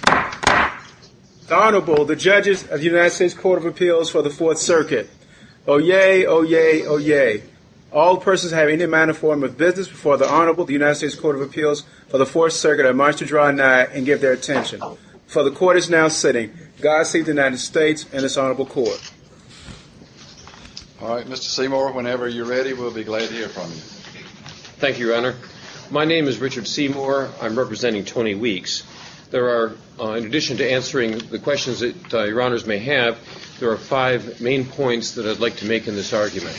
The Honorable, the Judges of the United States Court of Appeals for the Fourth Circuit. Oyez, oyez, oyez. All persons having any manner or form of business before the Honorable of the United States Court of Appeals for the Fourth Circuit are admonished to draw nigh and give their attention. For the Court is now sitting. God save the United States and its Honorable Court. All right, Mr. Seymour, whenever you're ready, we'll be glad to hear from you. Thank you, Your Honor. My name is Richard Seymour. I'm representing Tony Weeks. There are, in addition to answering the questions that Your Honors may have, there are five main points that I'd like to make in this argument.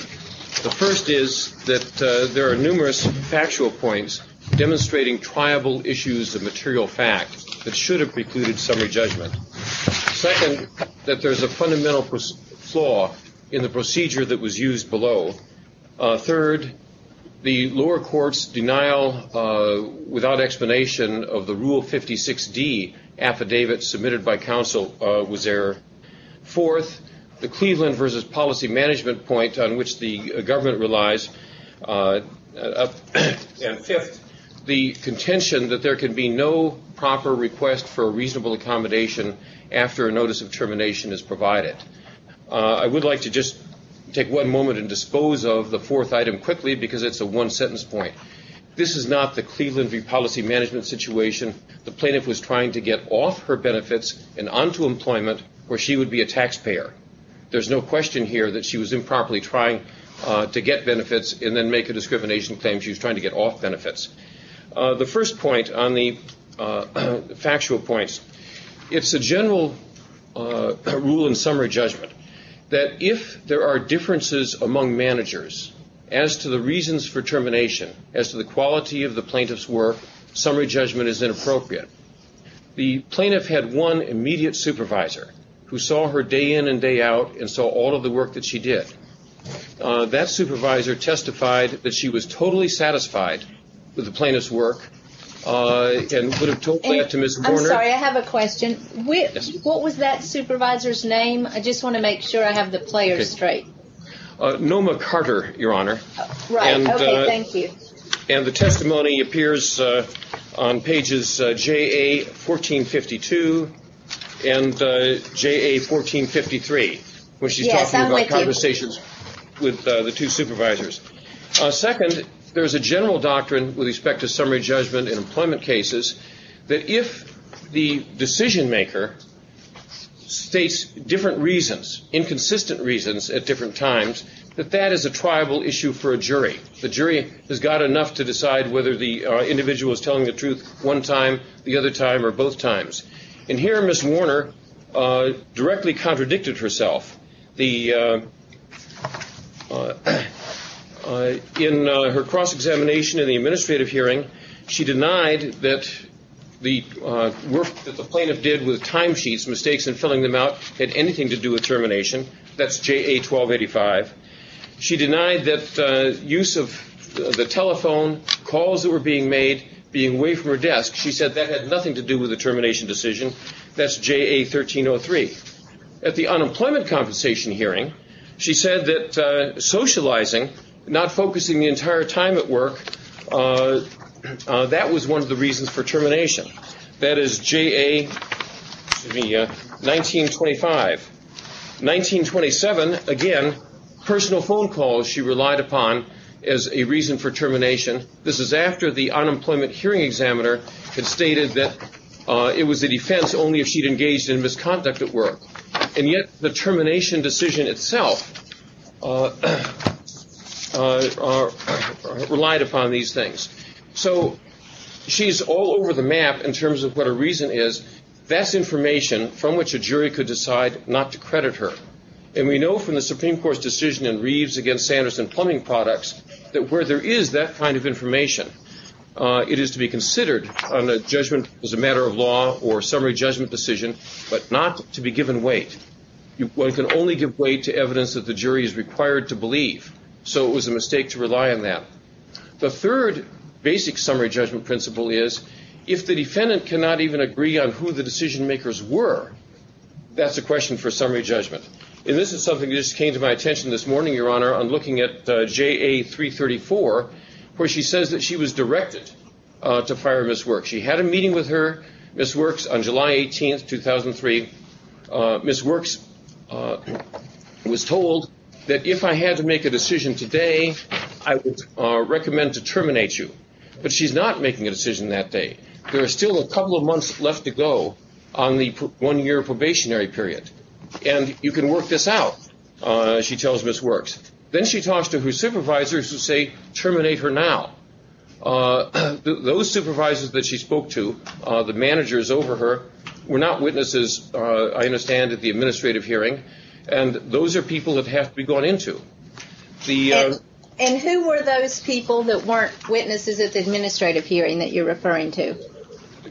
The first is that there are numerous factual points demonstrating triable issues of material fact that should have precluded summary judgment. Second, that there is a fundamental flaw in the procedure that was used below. Third, the lower court's denial without explanation of the Rule 56D affidavit submitted by counsel was error. Fourth, the Cleveland v. Policy Management point on which the government relies. And fifth, the contention that there can be no proper request for reasonable accommodation after a notice of termination is provided. I would like to just take one moment and dispose of the fourth item quickly because it's a one-sentence point. This is not the Cleveland v. Policy Management situation. The plaintiff was trying to get off her benefits and onto employment where she would be a taxpayer. There's no question here that she was improperly trying to get benefits and then make a discrimination claim. She was trying to get off benefits. The first point on the factual points, it's a general rule in summary judgment that if there are differences among managers as to the reasons for termination, as to the quality of the plaintiff's work, summary judgment is inappropriate. The plaintiff had one immediate supervisor who saw her day in and day out and saw all of the work that she did. That supervisor testified that she was totally satisfied with the plaintiff's work and would have told that to Ms. Warner. I'm sorry, I have a question. What was that supervisor's name? I just want to make sure I have the players straight. Noma Carter, Your Honor. Right, okay, thank you. And the testimony appears on pages JA 1452 and JA 1453. Yes, I'm with you. When she's talking about conversations with the two supervisors. Second, there's a general doctrine with respect to summary judgment in employment cases that if the decision maker states different reasons, inconsistent reasons at different times, that that is a triable issue for a jury. The jury has got enough to decide whether the individual is telling the truth one time, the other time, or both times. And here Ms. Warner directly contradicted herself. In her cross-examination in the administrative hearing, she denied that the work that the plaintiff did with timesheets, mistakes in filling them out, had anything to do with termination. That's JA 1285. She denied that use of the telephone, calls that were being made, being away from her desk, she said that had nothing to do with the termination decision. That's JA 1303. At the unemployment compensation hearing, she said that socializing, not focusing the entire time at work, that was one of the reasons for termination. That is JA 1925. 1927, again, personal phone calls she relied upon as a reason for termination. This is after the unemployment hearing examiner had stated that it was a defense only if she had engaged in misconduct at work. And yet the termination decision itself relied upon these things. So she's all over the map in terms of what her reason is. That's information from which a jury could decide not to credit her. And we know from the Supreme Court's decision in Reeves against Sanderson Plumbing Products that where there is that kind of information, it is to be considered on a judgment as a matter of law or summary judgment decision, but not to be given weight. One can only give weight to evidence that the jury is required to believe. So it was a mistake to rely on that. The third basic summary judgment principle is if the defendant cannot even agree on who the decision makers were, that's a question for summary judgment. And this is something that just came to my attention this morning, Your Honor. I'm looking at JA 334, where she says that she was directed to fire Miss Works. She had a meeting with her, Miss Works, on July 18th, 2003. Miss Works was told that if I had to make a decision today, I would recommend to terminate you. But she's not making a decision that day. There are still a couple of months left to go on the one-year probationary period. And you can work this out, she tells Miss Works. Then she talks to her supervisors who say terminate her now. Those supervisors that she spoke to, the managers over her, were not witnesses, I understand, at the administrative hearing. And those are people that have to be gone into. And who were those people that weren't witnesses at the administrative hearing that you're referring to?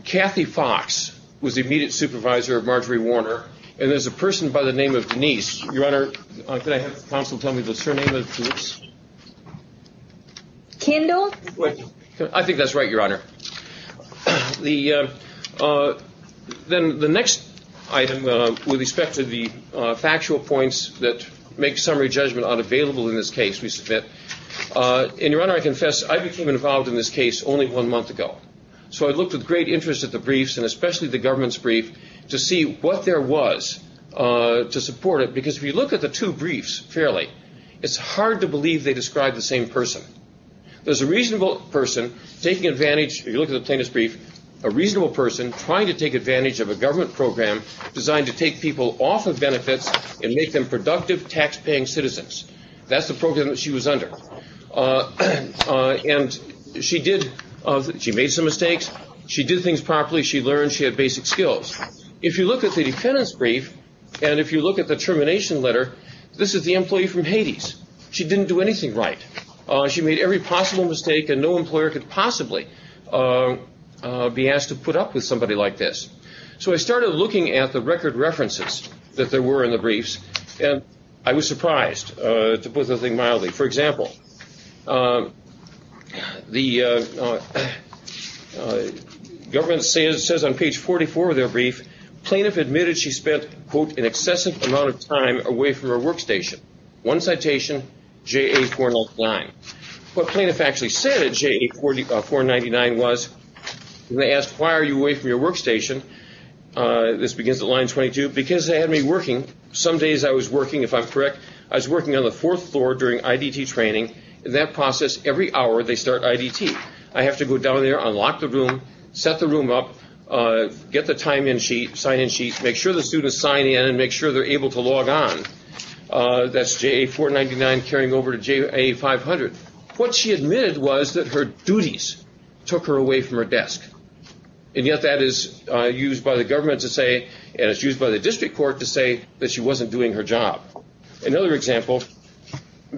Kathy Fox was the immediate supervisor of Marjorie Warner. And there's a person by the name of Denise. Your Honor, could I have counsel tell me the surname of Denise? Kendall? I think that's right, Your Honor. Then the next item with respect to the factual points that make summary judgment unavailable in this case, we submit. And, Your Honor, I confess I became involved in this case only one month ago. So I looked with great interest at the briefs, and especially the government's brief, to see what there was to support it. Because if you look at the two briefs fairly, it's hard to believe they describe the same person. There's a reasonable person taking advantage, if you look at the plaintiff's brief, a reasonable person trying to take advantage of a government program designed to take people off of benefits and make them productive, taxpaying citizens. That's the program that she was under. And she made some mistakes. She did things properly. She learned. She had basic skills. If you look at the defendant's brief, and if you look at the termination letter, this is the employee from Hades. She didn't do anything right. She made every possible mistake, and no employer could possibly be asked to put up with somebody like this. So I started looking at the record references that there were in the briefs, and I was surprised to put the thing mildly. For example, the government says on page 44 of their brief, plaintiff admitted she spent, quote, an excessive amount of time away from her workstation. One citation, JA-409. What plaintiff actually said at JA-499 was, when they asked, why are you away from your workstation, this begins at line 22, because they had me working. Some days I was working, if I'm correct, I was working on the fourth floor during IDT training. In that process, every hour they start IDT. I have to go down there, unlock the room, set the room up, get the time in sheet, sign in sheet, make sure the students sign in and make sure they're able to log on. That's JA-499 carrying over to JA-500. What she admitted was that her duties took her away from her desk, and yet that is used by the government to say, and it's used by the district court to say, that she wasn't doing her job. Another example.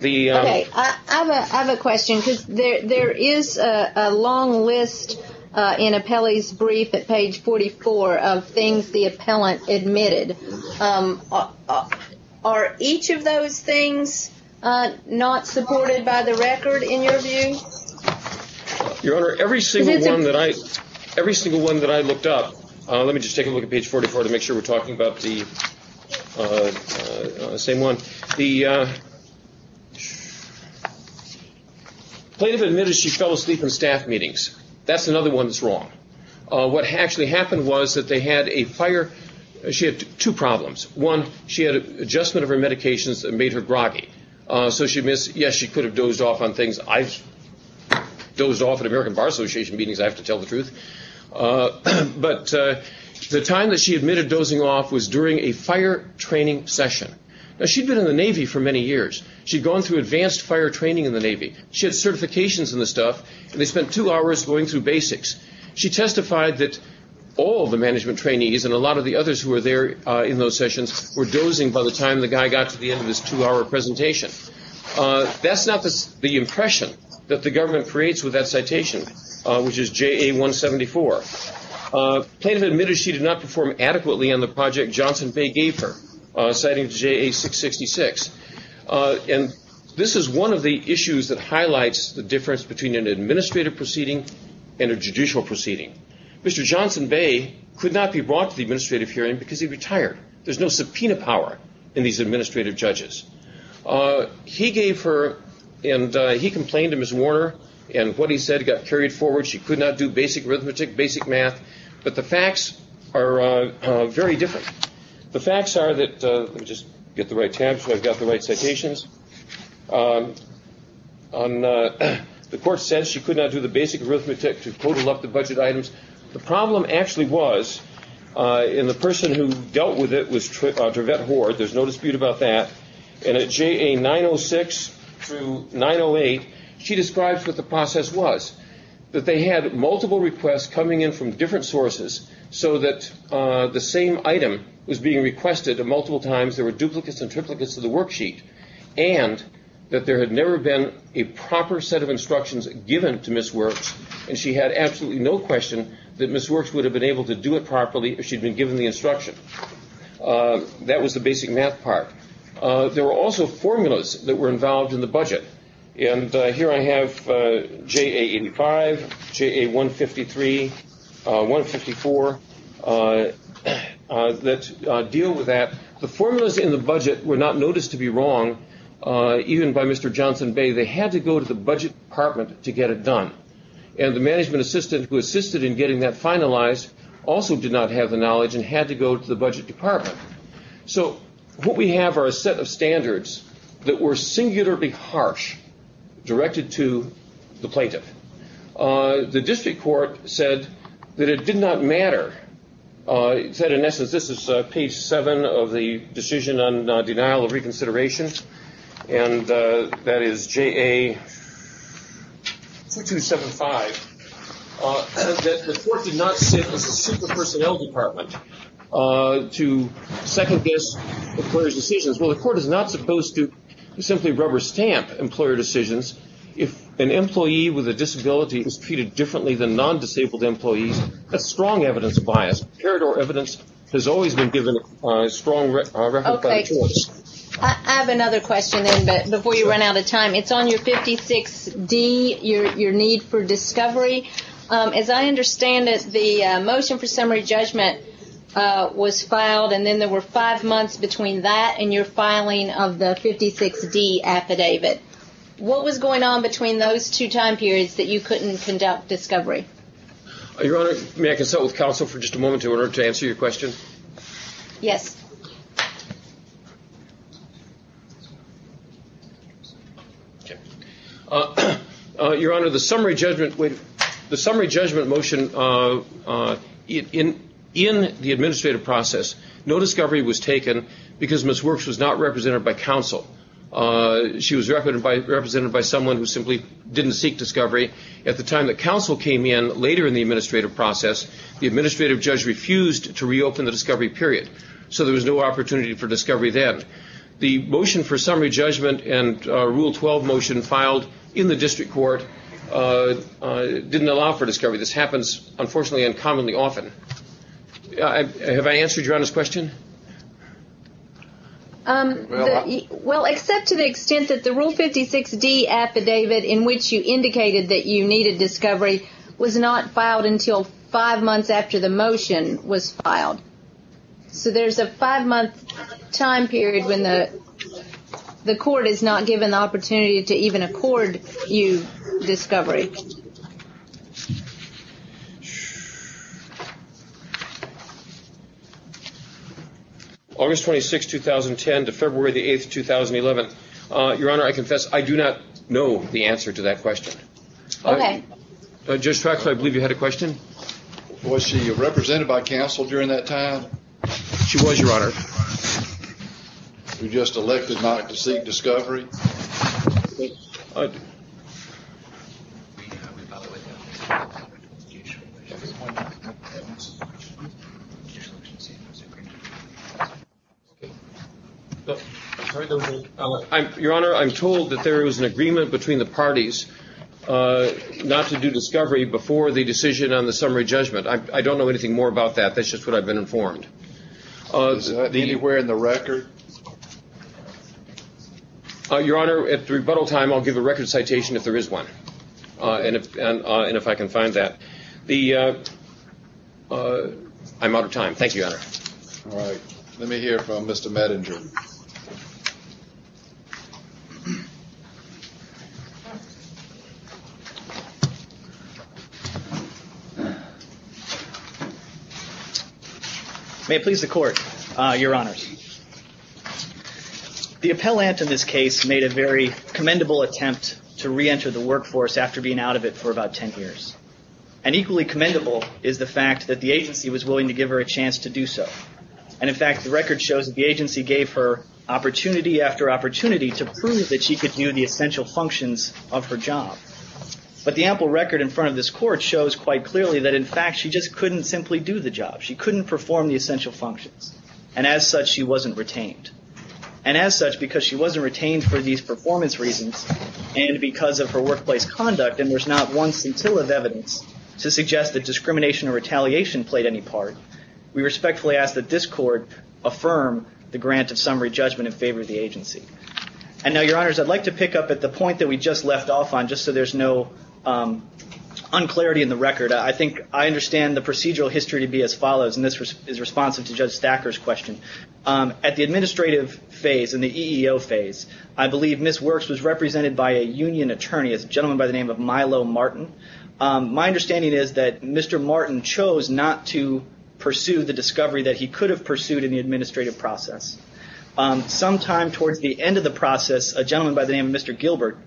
I have a question, because there is a long list in Apelli's brief at page 44 of things the appellant admitted. Are each of those things not supported by the record, in your view? Your Honor, every single one that I looked up, let me just take a look at page 44 to make sure we're talking about the same one. The plaintiff admitted she fell asleep in staff meetings. That's another one that's wrong. What actually happened was that they had a fire. She had two problems. One, she had an adjustment of her medications that made her groggy. So she admits, yes, she could have dozed off on things. I've dozed off at American Bar Association meetings, I have to tell the truth. But the time that she admitted dozing off was during a fire training session. Now, she'd been in the Navy for many years. She'd gone through advanced fire training in the Navy. She had certifications in the stuff, and they spent two hours going through basics. She testified that all the management trainees and a lot of the others who were there in those sessions were dozing by the time the guy got to the end of this two-hour presentation. That's not the impression that the government creates with that citation, which is JA-174. Plaintiff admitted she did not perform adequately on the project Johnson Bay gave her, citing JA-666. And this is one of the issues that highlights the difference between an administrative proceeding and a judicial proceeding. Mr. Johnson Bay could not be brought to the administrative hearing because he retired. There's no subpoena power in these administrative judges. He gave her, and he complained to Ms. Warner, and what he said got carried forward. She could not do basic arithmetic, basic math. But the facts are very different. The facts are that – let me just get the right tab so I've got the right citations. The court said she could not do the basic arithmetic to total up the budget items. The problem actually was, and the person who dealt with it was Trevette Hoard. There's no dispute about that. And at JA-906 through 908, she describes what the process was, that they had multiple requests coming in from different sources so that the same item was being requested multiple times. There were duplicates and triplicates of the worksheet. And that there had never been a proper set of instructions given to Ms. Works, and she had absolutely no question that Ms. Works would have been able to do it properly if she'd been given the instruction. That was the basic math part. There were also formulas that were involved in the budget. And here I have JA-85, JA-153, 154 that deal with that. The formulas in the budget were not noticed to be wrong, even by Mr. Johnson Bay. They had to go to the budget department to get it done. And the management assistant who assisted in getting that finalized also did not have the knowledge and had to go to the budget department. So what we have are a set of standards that were singularly harsh directed to the plaintiff. The district court said that it did not matter. It said, in essence, this is page 7 of the decision on denial of reconsideration, and that is JA-2275, that the court did not sit as a super-personnel department to second-guess the employer's decisions. Well, the court is not supposed to simply rubber-stamp employer decisions. If an employee with a disability is treated differently than non-disabled employees, that's strong evidence bias. Peridot evidence has always been given a strong record by the courts. Okay. I have another question then before you run out of time. It's on your 56D, your need for discovery. As I understand it, the motion for summary judgment was filed, and then there were five months between that and your filing of the 56D affidavit. What was going on between those two time periods that you couldn't conduct discovery? Your Honor, may I consult with counsel for just a moment in order to answer your question? Yes. Your Honor, the summary judgment motion in the administrative process, no discovery was taken because Ms. Works was not represented by counsel. She was represented by someone who simply didn't seek discovery. At the time that counsel came in, later in the administrative process, the administrative judge refused to reopen the discovery period, so there was no opportunity for discovery then. The motion for summary judgment and Rule 12 motion filed in the district court didn't allow for discovery. This happens, unfortunately, uncommonly often. Have I answered your Honor's question? Well, except to the extent that the Rule 56D affidavit in which you indicated that you needed discovery was not filed until five months after the motion was filed. So there's a five-month time period when the court is not given the opportunity to even accord you discovery. August 26, 2010 to February 8, 2011. Your Honor, I confess I do not know the answer to that question. Okay. Judge Traxler, I believe you had a question. Was she represented by counsel during that time? She was, Your Honor. You just elected not to seek discovery. Your Honor, I'm told that there was an agreement between the parties not to do discovery before the decision on the summary judgment. I don't know anything more about that. That's just what I've been informed. Is that anywhere in the record? Your Honor, at rebuttal time, I'll give a record citation if there is one and if I can find that. I'm out of time. Thank you, Your Honor. All right. Let me hear from Mr. Medinger. May it please the Court, Your Honors. The appellant in this case made a very commendable attempt to reenter the workforce after being out of it for about 10 years. And equally commendable is the fact that the agency was willing to give her a chance to do so. And, in fact, the record shows that the agency gave her opportunity after opportunity to prove that she could do the essential functions of her job. But the ample record in front of this Court shows quite clearly that, in fact, she just couldn't simply do the job. She couldn't perform the essential functions. And as such, she wasn't retained. And as such, because she wasn't retained for these performance reasons and because of her workplace conduct, and there's not one scintilla of evidence to suggest that discrimination or retaliation played any part, we respectfully ask that this Court affirm the grant of summary judgment in favor of the agency. And now, Your Honors, I'd like to pick up at the point that we just left off on, just so there's no unclarity in the record. I think I understand the procedural history to be as follows, and this is responsive to Judge Thacker's question. At the administrative phase and the EEO phase, I believe Ms. Works was represented by a union attorney, a gentleman by the name of Milo Martin. My understanding is that Mr. Martin chose not to pursue the discovery that he could have pursued in the administrative process. Sometime towards the end of the process, a gentleman by the name of Mr. Gilbert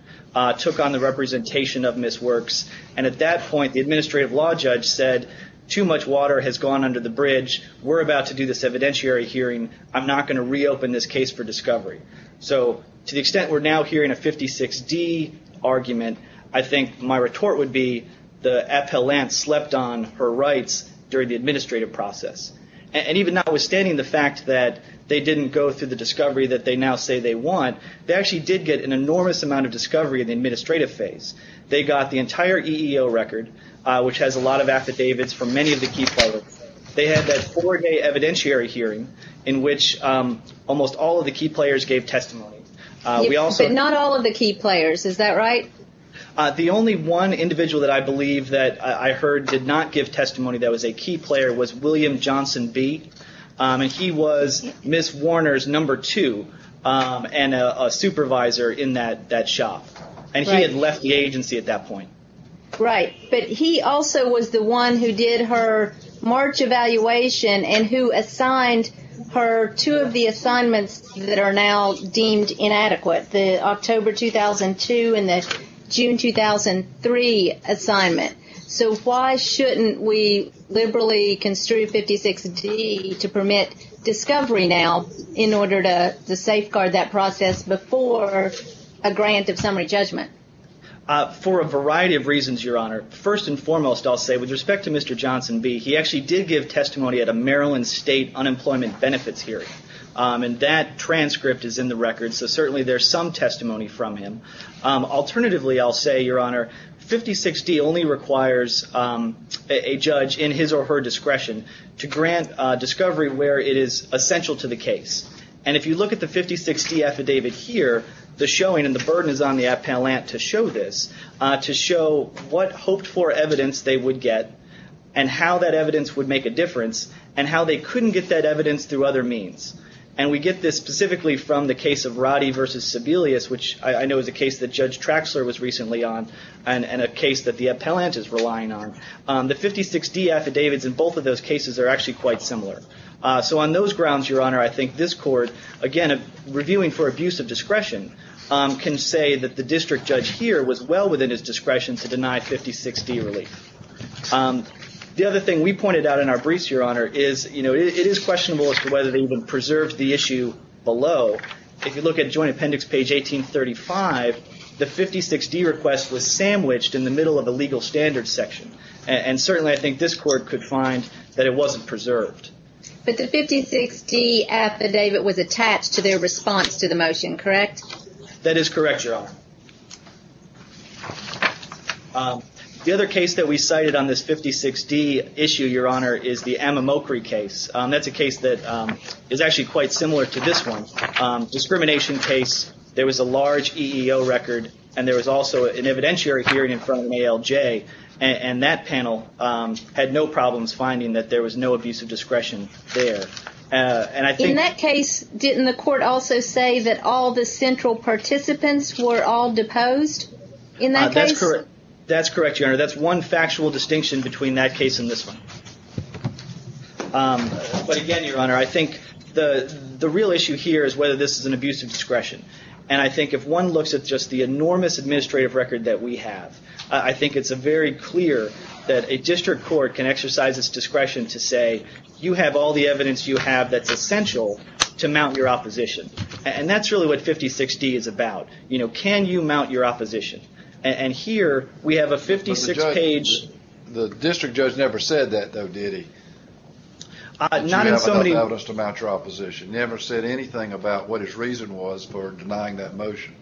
took on the representation of Ms. Works. And at that point, the administrative law judge said, too much water has gone under the bridge. We're about to do this evidentiary hearing. I'm not going to reopen this case for discovery. So to the extent we're now hearing a 56-D argument, I think my retort would be the appellant slept on her rights during the administrative process. And even notwithstanding the fact that they didn't go through the discovery that they now say they want, they actually did get an enormous amount of discovery in the administrative phase. They got the entire EEO record, which has a lot of affidavits from many of the key players. They had that four-day evidentiary hearing in which almost all of the key players gave testimony. But not all of the key players. Is that right? The only one individual that I believe that I heard did not give testimony that was a key player was William Johnson B. And he was Ms. Warner's number two and a supervisor in that shop. And he had left the agency at that point. Right. But he also was the one who did her March evaluation and who assigned her two of the assignments that are now deemed inadequate, the October 2002 and the June 2003 assignment. So why shouldn't we liberally construe 56-D to permit discovery now in order to safeguard that process before a grant of summary judgment? For a variety of reasons, Your Honor. First and foremost, I'll say with respect to Mr. Johnson B., he actually did give testimony at a Maryland state unemployment benefits hearing. And that transcript is in the record. So certainly there's some testimony from him. Alternatively, I'll say, Your Honor, 56-D only requires a judge in his or her discretion to grant discovery where it is essential to the case. And if you look at the 56-D affidavit here, the showing and the burden is on the appellant to show this, to show what hoped-for evidence they would get and how that evidence would make a difference and how they couldn't get that evidence through other means. And we get this specifically from the case of Roddy versus Sebelius, which I know is a case that Judge Traxler was recently on and a case that the appellant is relying on. The 56-D affidavits in both of those cases are actually quite similar. So on those grounds, Your Honor, I think this court, again, reviewing for abuse of discretion, can say that the district judge here was well within his discretion to deny 56-D relief. The other thing we pointed out in our briefs, Your Honor, is it is questionable as to whether they even preserved the issue below. If you look at Joint Appendix page 1835, the 56-D request was sandwiched in the middle of the legal standards section. And certainly I think this court could find that it wasn't preserved. But the 56-D affidavit was attached to their response to the motion, correct? That is correct, Your Honor. The other case that we cited on this 56-D issue, Your Honor, is the Amimokri case. That's a case that is actually quite similar to this one. Discrimination case, there was a large EEO record and there was also an evidentiary hearing in front of an ALJ. And that panel had no problems finding that there was no abuse of discretion there. In that case, didn't the court also say that all the central participants were all deposed in that case? That's correct, Your Honor. That's one factual distinction between that case and this one. But again, Your Honor, I think the real issue here is whether this is an abuse of discretion. And I think if one looks at just the enormous administrative record that we have, I think it's very clear that a district court can exercise its discretion to say, you have all the evidence you have that's essential to mount your opposition. And that's really what 56-D is about. Can you mount your opposition? And here, we have a 56-page... But the district judge never said that, though, did he? That you have enough evidence to mount your opposition. He never said anything about what his reason was for denying that motion.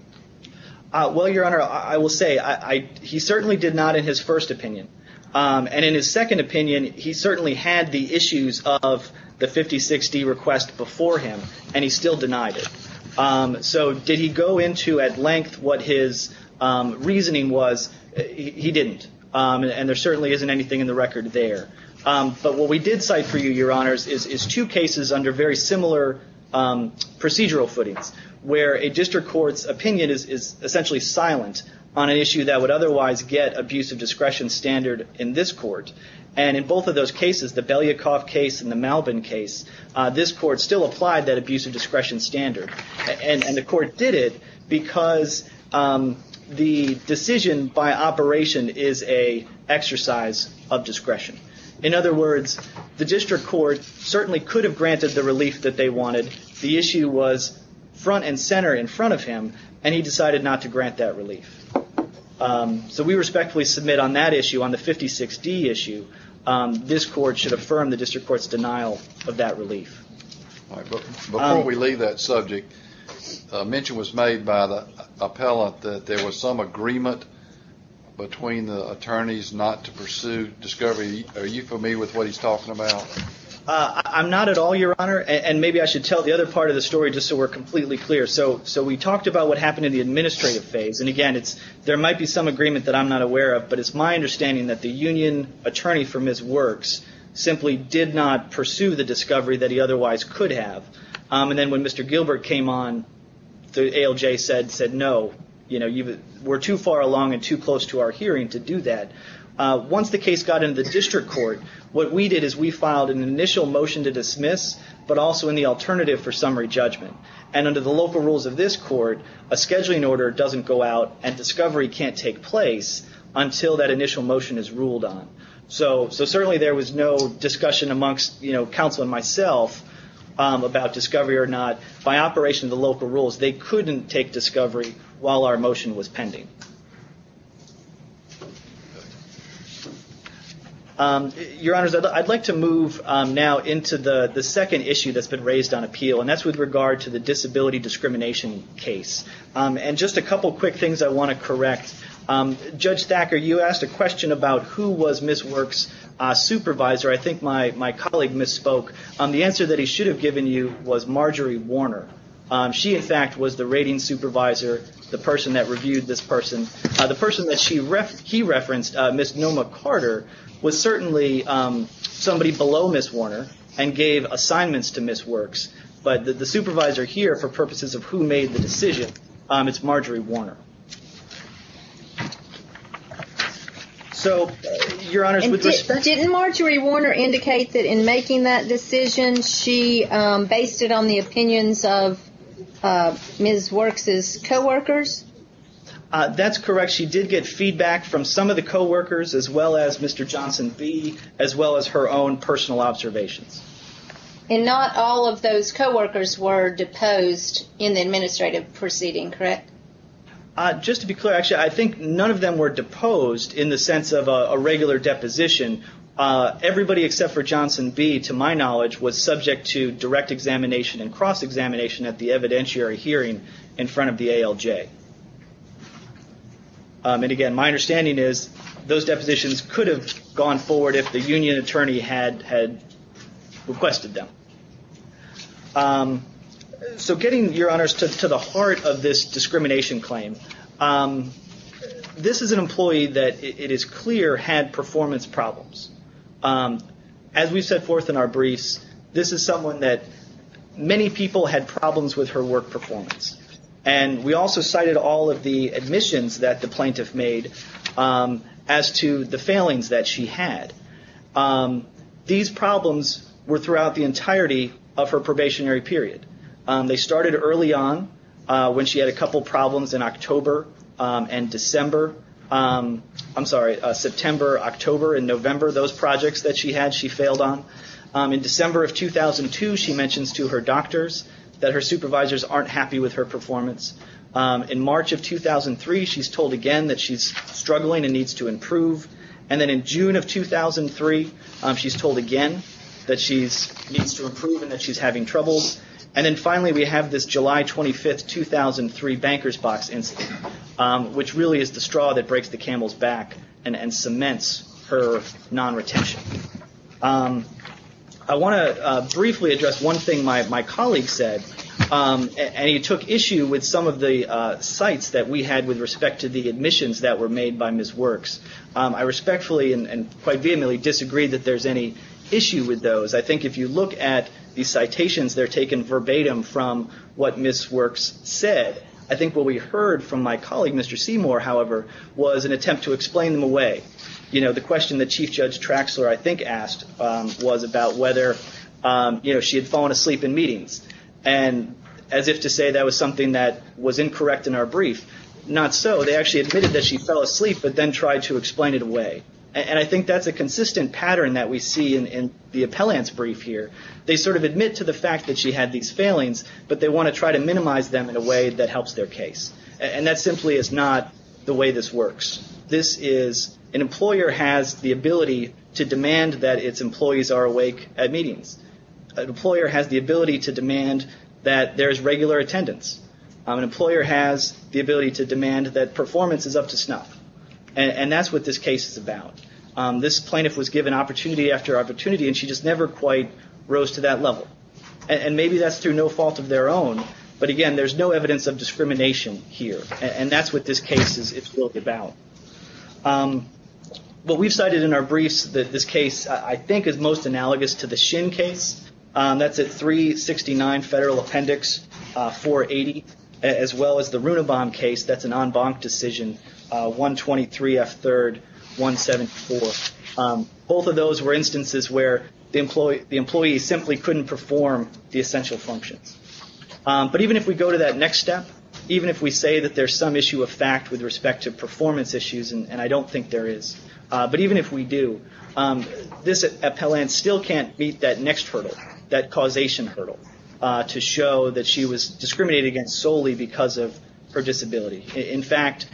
Well, Your Honor, I will say, he certainly did not in his first opinion. And in his second opinion, he certainly had the issues of the 56-D request before him, and he still denied it. So did he go into at length what his reasoning was? He didn't. And there certainly isn't anything in the record there. But what we did cite for you, Your Honors, is two cases under very similar procedural footings, where a district court's opinion is essentially silent on an issue that would otherwise get abuse of discretion standard in this court. And in both of those cases, the Belyakov case and the Malvin case, this court still applied that abuse of discretion standard. And the court did it because the decision by operation is an exercise of discretion. In other words, the district court certainly could have granted the relief that they wanted. The issue was front and center in front of him, and he decided not to grant that relief. So we respectfully submit on that issue, on the 56-D issue, this court should affirm the district court's denial of that relief. All right. Before we leave that subject, a mention was made by the appellant that there was some agreement between the attorneys not to pursue discovery. Are you familiar with what he's talking about? I'm not at all, Your Honor. And maybe I should tell the other part of the story just so we're completely clear. So we talked about what happened in the administrative phase. And, again, there might be some agreement that I'm not aware of, but it's my understanding that the union attorney for Ms. Works simply did not pursue the discovery that he otherwise could have. And then when Mr. Gilbert came on, the ALJ said, no, we're too far along and too close to our hearing to do that. Once the case got into the district court, what we did is we filed an initial motion to dismiss, but also in the alternative for summary judgment. And under the local rules of this court, a scheduling order doesn't go out and discovery can't take place until that initial motion is ruled on. So certainly there was no discussion amongst counsel and myself about discovery or not. By operation of the local rules, they couldn't take discovery while our motion was pending. Your Honors, I'd like to move now into the second issue that's been raised on appeal, and that's with regard to the disability discrimination case. And just a couple quick things I want to correct. Judge Thacker, you asked a question about who was Ms. Works' supervisor. I think my colleague misspoke. The answer that he should have given you was Marjorie Warner. She, in fact, was the rating supervisor, the person that reviewed this person. The person that he referenced, Ms. Noma Carter, was certainly somebody below Ms. Warner and gave assignments to Ms. Works. But the supervisor here, for purposes of who made the decision, it's Marjorie Warner. So, Your Honors, would this- Didn't Marjorie Warner indicate that in making that decision, she based it on the opinions of Ms. Works' co-workers? That's correct. She did get feedback from some of the co-workers, as well as Mr. Johnson B., as well as her own personal observations. And not all of those co-workers were deposed in the administrative proceeding, correct? Just to be clear, actually, I think none of them were deposed in the sense of a regular deposition. Everybody except for Johnson B., to my knowledge, was subject to direct examination and cross-examination at the evidentiary hearing in front of the ALJ. And again, my understanding is those depositions could have gone forward if the union attorney had requested them. So getting, Your Honors, to the heart of this discrimination claim, this is an employee that it is clear had performance problems. As we've set forth in our briefs, this is someone that many people had problems with her work performance. And we also cited all of the admissions that the plaintiff made as to the failings that she had. These problems were throughout the entirety of her probationary period. They started early on when she had a couple problems in October and December. I'm sorry, September, October, and November. Those projects that she had, she failed on. In December of 2002, she mentions to her doctors that her supervisors aren't happy with her performance. In March of 2003, she's told again that she's struggling and needs to improve. And then in June of 2003, she's told again that she needs to improve and that she's having troubles. And then finally we have this July 25th, 2003 Bankers Box incident, which really is the straw that breaks the camel's back and cements her non-retention. I want to briefly address one thing my colleague said, and he took issue with some of the cites that we had with respect to the admissions that were made by Ms. Works. I respectfully and quite vehemently disagree that there's any issue with those. I think if you look at the citations, they're taken verbatim from what Ms. Works said. I think what we heard from my colleague, Mr. Seymour, however, was an attempt to explain them away. The question that Chief Judge Traxler, I think, asked was about whether she had fallen asleep in meetings. And as if to say that was something that was incorrect in our brief, not so. They actually admitted that she fell asleep, but then tried to explain it away. And I think that's a consistent pattern that we see in the appellant's brief here. They sort of admit to the fact that she had these failings, but they want to try to minimize them in a way that helps their case. And that simply is not the way this works. This is an employer has the ability to demand that its employees are awake at meetings. An employer has the ability to demand that there's regular attendance. An employer has the ability to demand that performance is up to snuff. And that's what this case is about. This plaintiff was given opportunity after opportunity, and she just never quite rose to that level. And maybe that's through no fault of their own, but again, there's no evidence of discrimination here. And that's what this case is really about. But we've cited in our briefs that this case, I think, is most analogous to the Shin case. That's at 369 Federal Appendix 480, as well as the Runebaum case. That's an en banc decision, 123F3rd174. Both of those were instances where the employee simply couldn't perform the essential functions. But even if we go to that next step, even if we say that there's some issue of fact with respect to performance issues, and I don't think there is, but even if we do, this appellant still can't beat that next hurdle, that causation hurdle, to show that she was discriminated against solely because of her disability. In fact,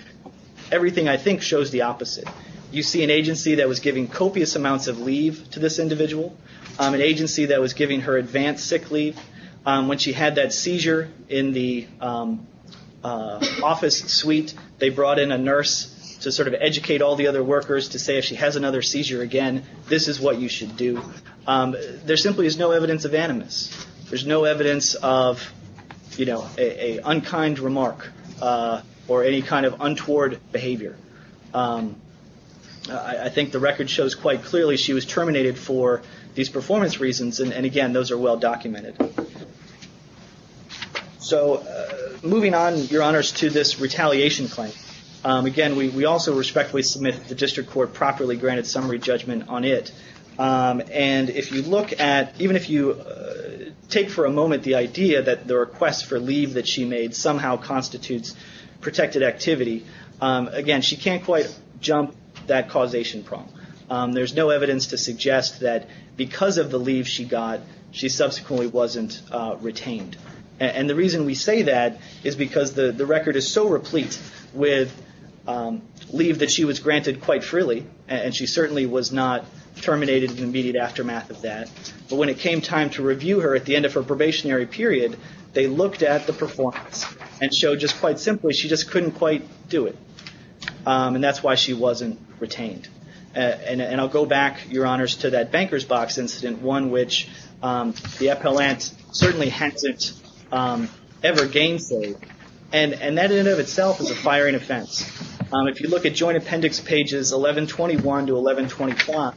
everything I think shows the opposite. You see an agency that was giving copious amounts of leave to this individual, an agency that was giving her advanced sick leave. When she had that seizure in the office suite, they brought in a nurse to sort of educate all the other workers to say, if she has another seizure again, this is what you should do. There simply is no evidence of animus. There's no evidence of, you know, a unkind remark or any kind of untoward behavior. I think the record shows quite clearly she was terminated for these performance reasons, and again, those are well documented. So moving on, Your Honors, to this retaliation claim. Again, we also respectfully submit that the district court properly granted summary judgment on it. And if you look at, even if you take for a moment the idea that the request for leave that she made somehow constitutes protected activity, again, she can't quite jump that causation prong. There's no evidence to suggest that because of the leave she got, she subsequently wasn't retained. And the reason we say that is because the record is so replete with leave that she was granted quite freely, and she certainly was not terminated in the immediate aftermath of that. But when it came time to review her at the end of her probationary period, they looked at the performance and showed just quite simply, she just couldn't quite do it. And that's why she wasn't retained. And I'll go back, Your Honors, to that banker's box incident, one which the appellant certainly hasn't ever gained say. And that in and of itself is a firing offense. If you look at joint appendix pages 1121 to 1121,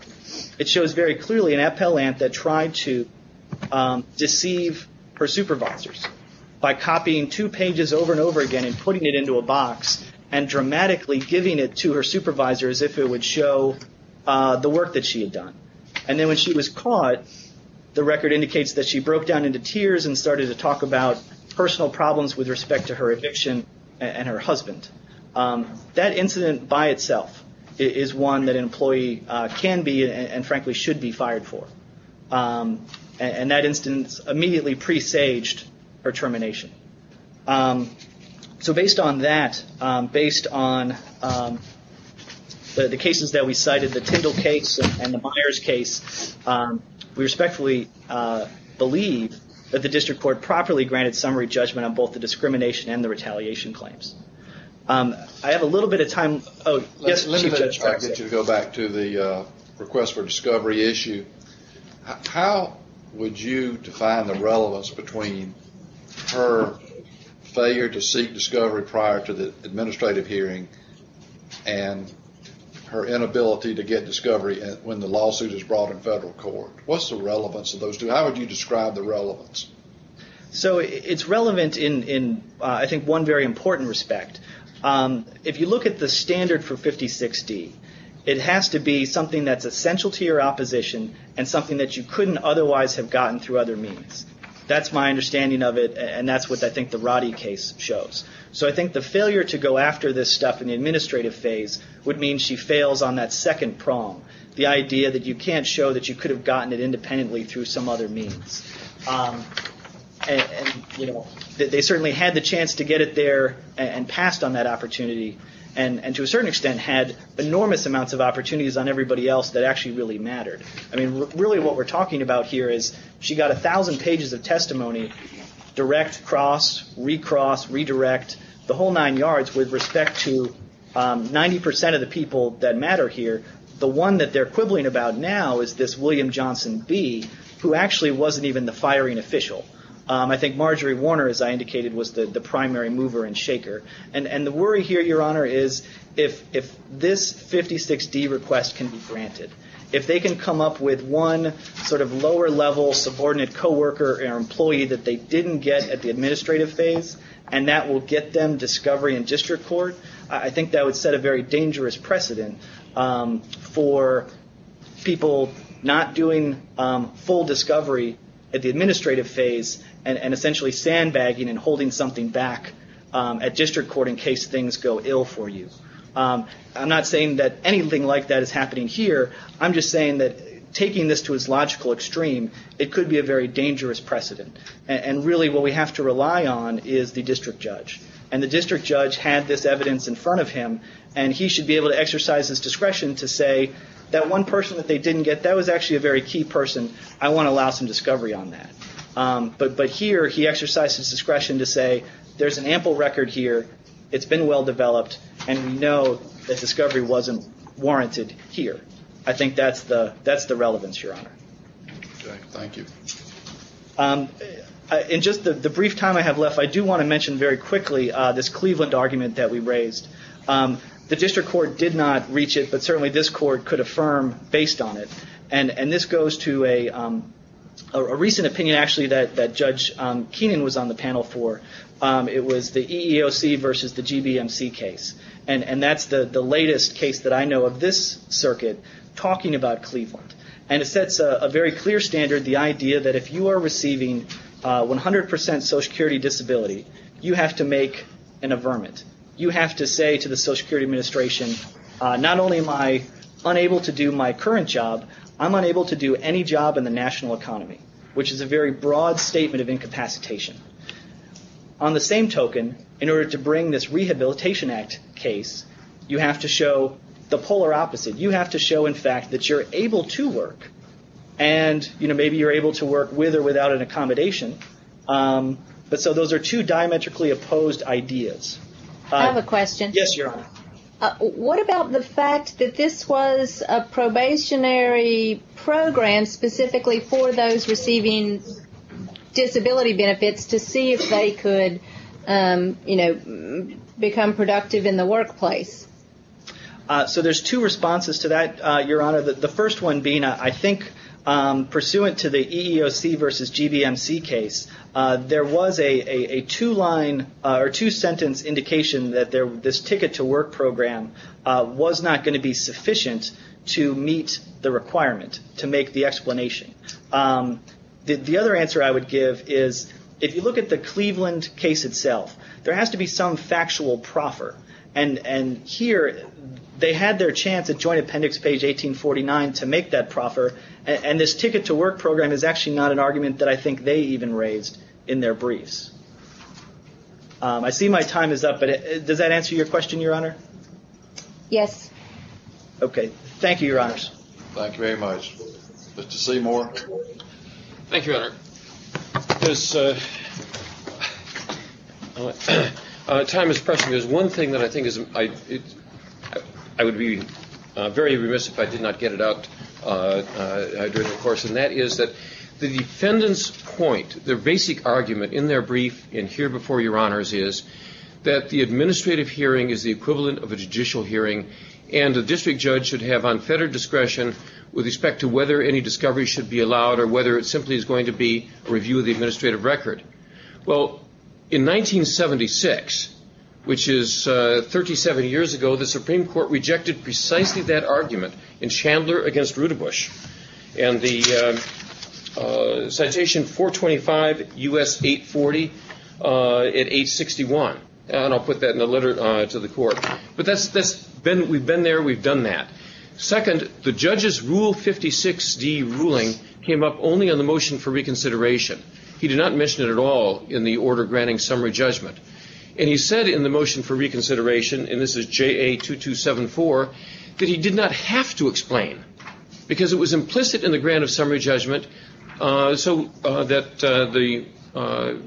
it shows very clearly an appellant that tried to deceive her supervisors by copying two pages over and over again and putting it into a box and dramatically giving it to her supervisors as if it would show the work that she had done. And then when she was caught, the record indicates that she broke down into tears and started to talk about personal problems with respect to her eviction and her husband. That incident by itself is one that an employee can be and frankly should be fired for. And that instance immediately presaged her termination. So based on that, based on the cases that we cited, the Tyndall case and the Myers case, we respectfully believe that the district court properly granted summary judgment on both the discrimination and the retaliation claims. I have a little bit of time. Oh, yes. Let me just try to get you to go back to the request for discovery issue. How would you define the relevance between her failure to seek discovery prior to the administrative hearing and her inability to get discovery when the lawsuit is brought in federal court? What's the relevance of those two? How would you describe the relevance? So it's relevant in, I think, one very important respect. If you look at the standard for 56D, it has to be something that's essential to your opposition and something that you couldn't otherwise have gotten through other means. That's my understanding of it and that's what I think the Roddy case shows. So I think the failure to go after this stuff in the administrative phase would mean she fails on that second prong, the idea that you can't show that you could have gotten it independently through some other means. They certainly had the chance to get it there and passed on that opportunity and, to a certain extent, had enormous amounts of opportunities on everybody else that actually really mattered. I mean, really what we're talking about here is she got a thousand pages of testimony, direct, cross, recross, redirect, the whole nine yards with respect to 90% of the people that matter here. The one that they're quibbling about now is this William Johnson B, who actually wasn't even the firing official. I think Marjorie Warner, as I indicated, was the primary mover and shaker. And the worry here, Your Honor, is if this 56D request can be granted, if they can come up with one sort of lower level subordinate co-worker or employee that they didn't get at the administrative phase and that will get them discovery in district court, I think that would set a very dangerous precedent for people not doing full discovery at the administrative phase and essentially sandbagging and holding something back at district court in case things go ill for you. I'm not saying that anything like that is happening here. I'm just saying that taking this to its logical extreme, it could be a very dangerous precedent. And really what we have to rely on is the district judge. And the district judge had this evidence in front of him and he should be able to exercise his discretion to say that one person that they didn't get, that was actually a very key person, I want to allow some discovery on that. But here he exercised his discretion to say there's an ample record here, it's been well developed, and we know that discovery wasn't warranted here. I think that's the relevance, Your Honor. Okay. Thank you. In just the brief time I have left, I do want to mention very quickly this Cleveland argument that we raised. The district court did not reach it, but certainly this court could affirm based on it. And this goes to a recent opinion actually that Judge Keenan was on the panel for. It was the EEOC versus the GBMC case. And that's the latest case that I know of this circuit talking about Cleveland. And it sets a very clear standard, the idea that if you are receiving 100% Social Security disability, you have to make an affirmment. You have to say to the Social Security Administration, not only am I unable to do my current job, I'm unable to do any job in the national economy, which is a very broad statement of incapacitation. On the same token, in order to bring this Rehabilitation Act case, you have to show the polar opposite. You have to show, in fact, that you're able to work, and maybe you're able to work with or without an accommodation. But so those are two diametrically opposed ideas. I have a question. Yes, Your Honor. What about the fact that this was a probationary program specifically for those receiving disability benefits to see if they could become productive in the workplace? So there's two responses to that, Your Honor. The first one being, I think, pursuant to the EEOC versus GBMC case, there was a two-sentence indication that this ticket-to-work program was not going to be sufficient to meet the requirement to make the explanation. The other answer I would give is, if you look at the Cleveland case itself, there has to be some factual proffer, and here they had their chance at Joint Appendix page 1849 to make that proffer, and this ticket-to-work program is actually not an argument that I think they even raised in their briefs. I see my time is up, but does that answer your question, Your Honor? Okay. Thank you, Your Honors. Thank you very much. Mr. Seymour. Thank you, Your Honor. Time is pressing. There's one thing that I think I would be very remiss if I did not get it out during the course, and that is that the defendant's point, their basic argument in their brief and here before Your Honors is, that the administrative hearing is the equivalent of a judicial hearing and a district judge should have unfettered discretion with respect to whether any discovery should be allowed or whether it simply is going to be a review of the administrative record. Well, in 1976, which is 37 years ago, the Supreme Court rejected precisely that argument in Chandler against Rudebusch and the citation 425 U.S. 840 at age 61, and I'll put that in the letter to the court. But we've been there. We've done that. Second, the judge's Rule 56D ruling came up only on the motion for reconsideration. He did not mention it at all in the order granting summary judgment, and he said in the motion for reconsideration, and this is JA 2274, that he did not have to explain because it was implicit in the grant of summary judgment so that the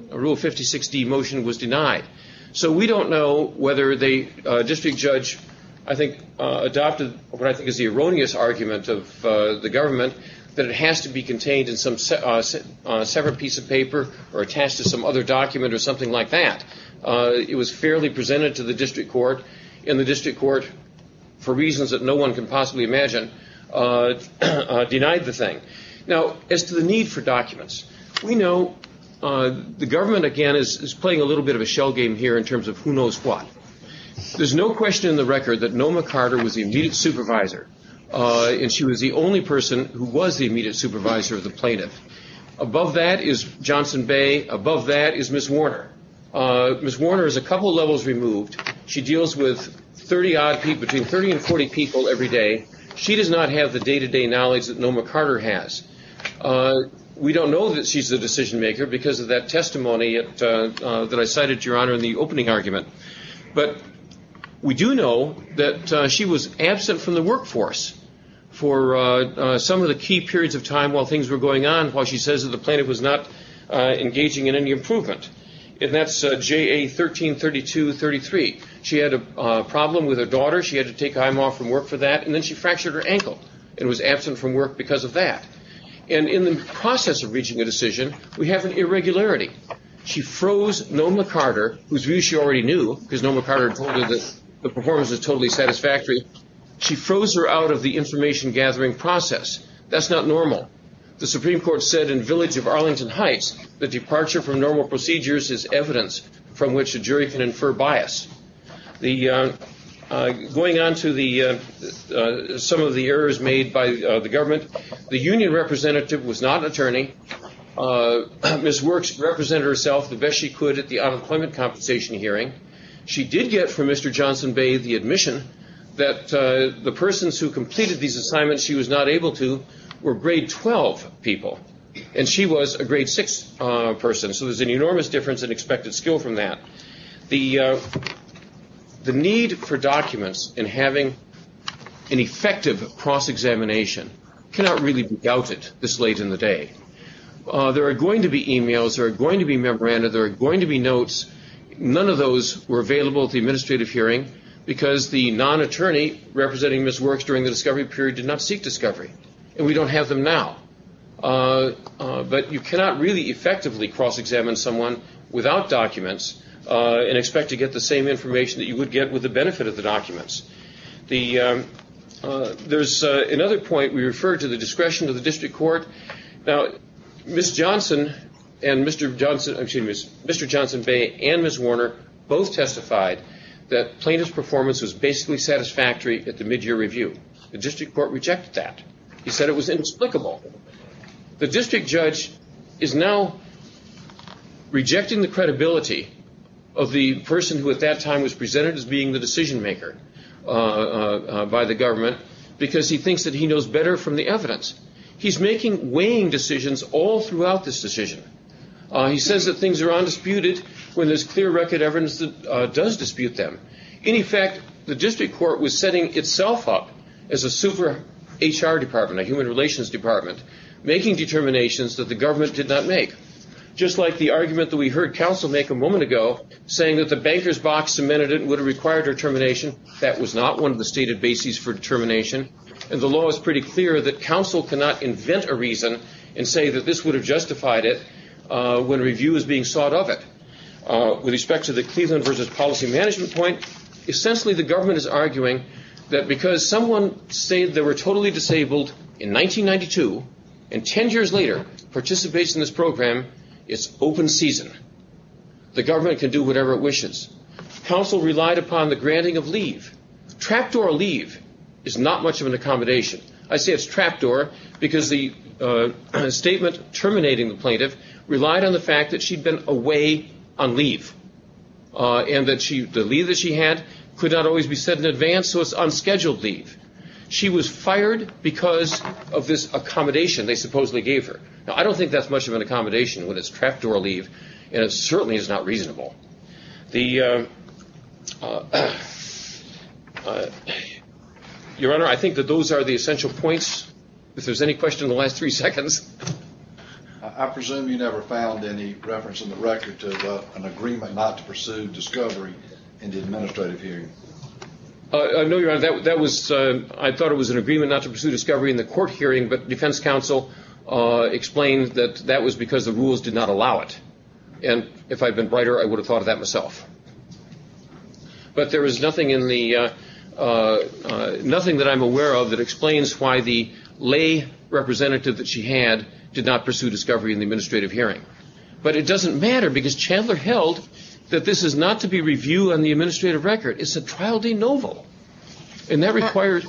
Rule 56D motion was denied. So we don't know whether the district judge, I think, adopted what I think is the erroneous argument of the government, that it has to be contained in some separate piece of paper or attached to some other document or something like that. It was fairly presented to the district court, and the district court, for reasons that no one can possibly imagine, denied the thing. Now, as to the need for documents, we know the government, again, is playing a little bit of a shell game here in terms of who knows what. There's no question in the record that Noma Carter was the immediate supervisor, and she was the only person who was the immediate supervisor of the plaintiff. Above that is Johnson Bay. Above that is Ms. Warner. Ms. Warner is a couple levels removed. She deals with 30-odd people, between 30 and 40 people every day. She does not have the day-to-day knowledge that Noma Carter has. We don't know that she's the decision maker because of that testimony that I cited, Your Honor, in the opening argument. But we do know that she was absent from the workforce for some of the key periods of time while things were going on, while she says that the plaintiff was not engaging in any improvement. And that's JA 13-32-33. She had a problem with her daughter. She had to take him off from work for that, and then she fractured her ankle and was absent from work because of that. And in the process of reaching a decision, we have an irregularity. She froze Noma Carter, whose view she already knew, because Noma Carter had told her that the performance was totally satisfactory. She froze her out of the information-gathering process. That's not normal. The Supreme Court said in Village of Arlington Heights that departure from normal procedures is evidence from which a jury can infer bias. Going on to some of the errors made by the government, the union representative was not an attorney. Ms. Works represented herself the best she could at the unemployment compensation hearing. She did get from Mr. Johnson Bay the admission that the persons who completed these assignments she was not able to were grade 12 people, and she was a grade 6 person. So there's an enormous difference in expected skill from that. The need for documents in having an effective cross-examination cannot really be doubted this late in the day. There are going to be e-mails. There are going to be memoranda. There are going to be notes. None of those were available at the administrative hearing because the non-attorney representing Ms. Works during the discovery period did not seek discovery, and we don't have them now. But you cannot really effectively cross-examine someone without documents and expect to get the same information that you would get with the benefit of the documents. There's another point. We refer to the discretion of the district court. Now, Mr. Johnson Bay and Ms. Warner both testified that plaintiff's performance was basically satisfactory at the mid-year review. The district court rejected that. He said it was inexplicable. The district judge is now rejecting the credibility of the person who at that time was presented as being the decision-maker by the government because he thinks that he knows better from the evidence. He's making weighing decisions all throughout this decision. He says that things are undisputed when there's clear record evidence that does dispute them. In effect, the district court was setting itself up as a super HR department, a human relations department, making determinations that the government did not make, just like the argument that we heard counsel make a moment ago, saying that the banker's box cemented it and would have required her termination. That was not one of the stated bases for determination, and the law is pretty clear that counsel cannot invent a reason and say that this would have justified it when review is being sought of it. With respect to the Cleveland versus policy management point, essentially the government is arguing that because someone said they were totally disabled in 1992 and 10 years later participates in this program, it's open season. The government can do whatever it wishes. Counsel relied upon the granting of leave. Trapdoor leave is not much of an accommodation. I say it's trapdoor because the statement terminating the plaintiff relied on the fact that she'd been away on leave and that the leave that she had could not always be set in advance, so it's unscheduled leave. She was fired because of this accommodation they supposedly gave her. Now, I don't think that's much of an accommodation when it's trapdoor leave, and it certainly is not reasonable. Your Honor, I think that those are the essential points. If there's any question in the last three seconds. I presume you never found any reference in the record to an agreement not to pursue discovery in the administrative hearing. No, Your Honor. I thought it was an agreement not to pursue discovery in the court hearing, but defense counsel explained that that was because the rules did not allow it. And if I'd been brighter, I would have thought of that myself. But there is nothing that I'm aware of that explains why the lay representative that she had did not pursue discovery in the administrative hearing. But it doesn't matter because Chandler held that this is not to be reviewed on the administrative record. It's a trial de novo, and that requires.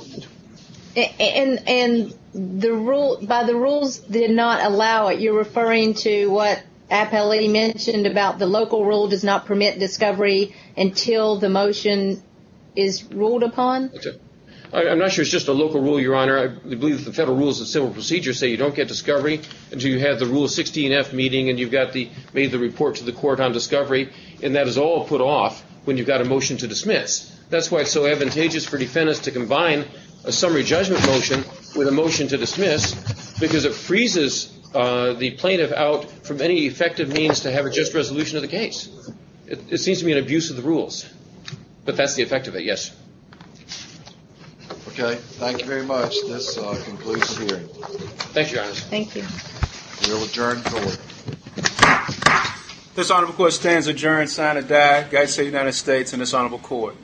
And the rule by the rules did not allow it. You're referring to what appellee mentioned about the local rule does not permit discovery until the motion is ruled upon. I'm not sure it's just a local rule, Your Honor. I believe the federal rules of civil procedure say you don't get discovery until you have the rule 16 F meeting and you've got the made the report to the court on discovery. And that is all put off when you've got a motion to dismiss. That's why it's so advantageous for defendants to combine a summary judgment motion with a motion to dismiss, because it freezes the plaintiff out from any effective means to have a just resolution of the case. It seems to be an abuse of the rules, but that's the effect of it. Yes. OK. Thank you very much. This concludes here. Thank you. Thank you. We'll adjourn. This article, of course, stands adjourned. Sign a day. I say United States and this honorable court.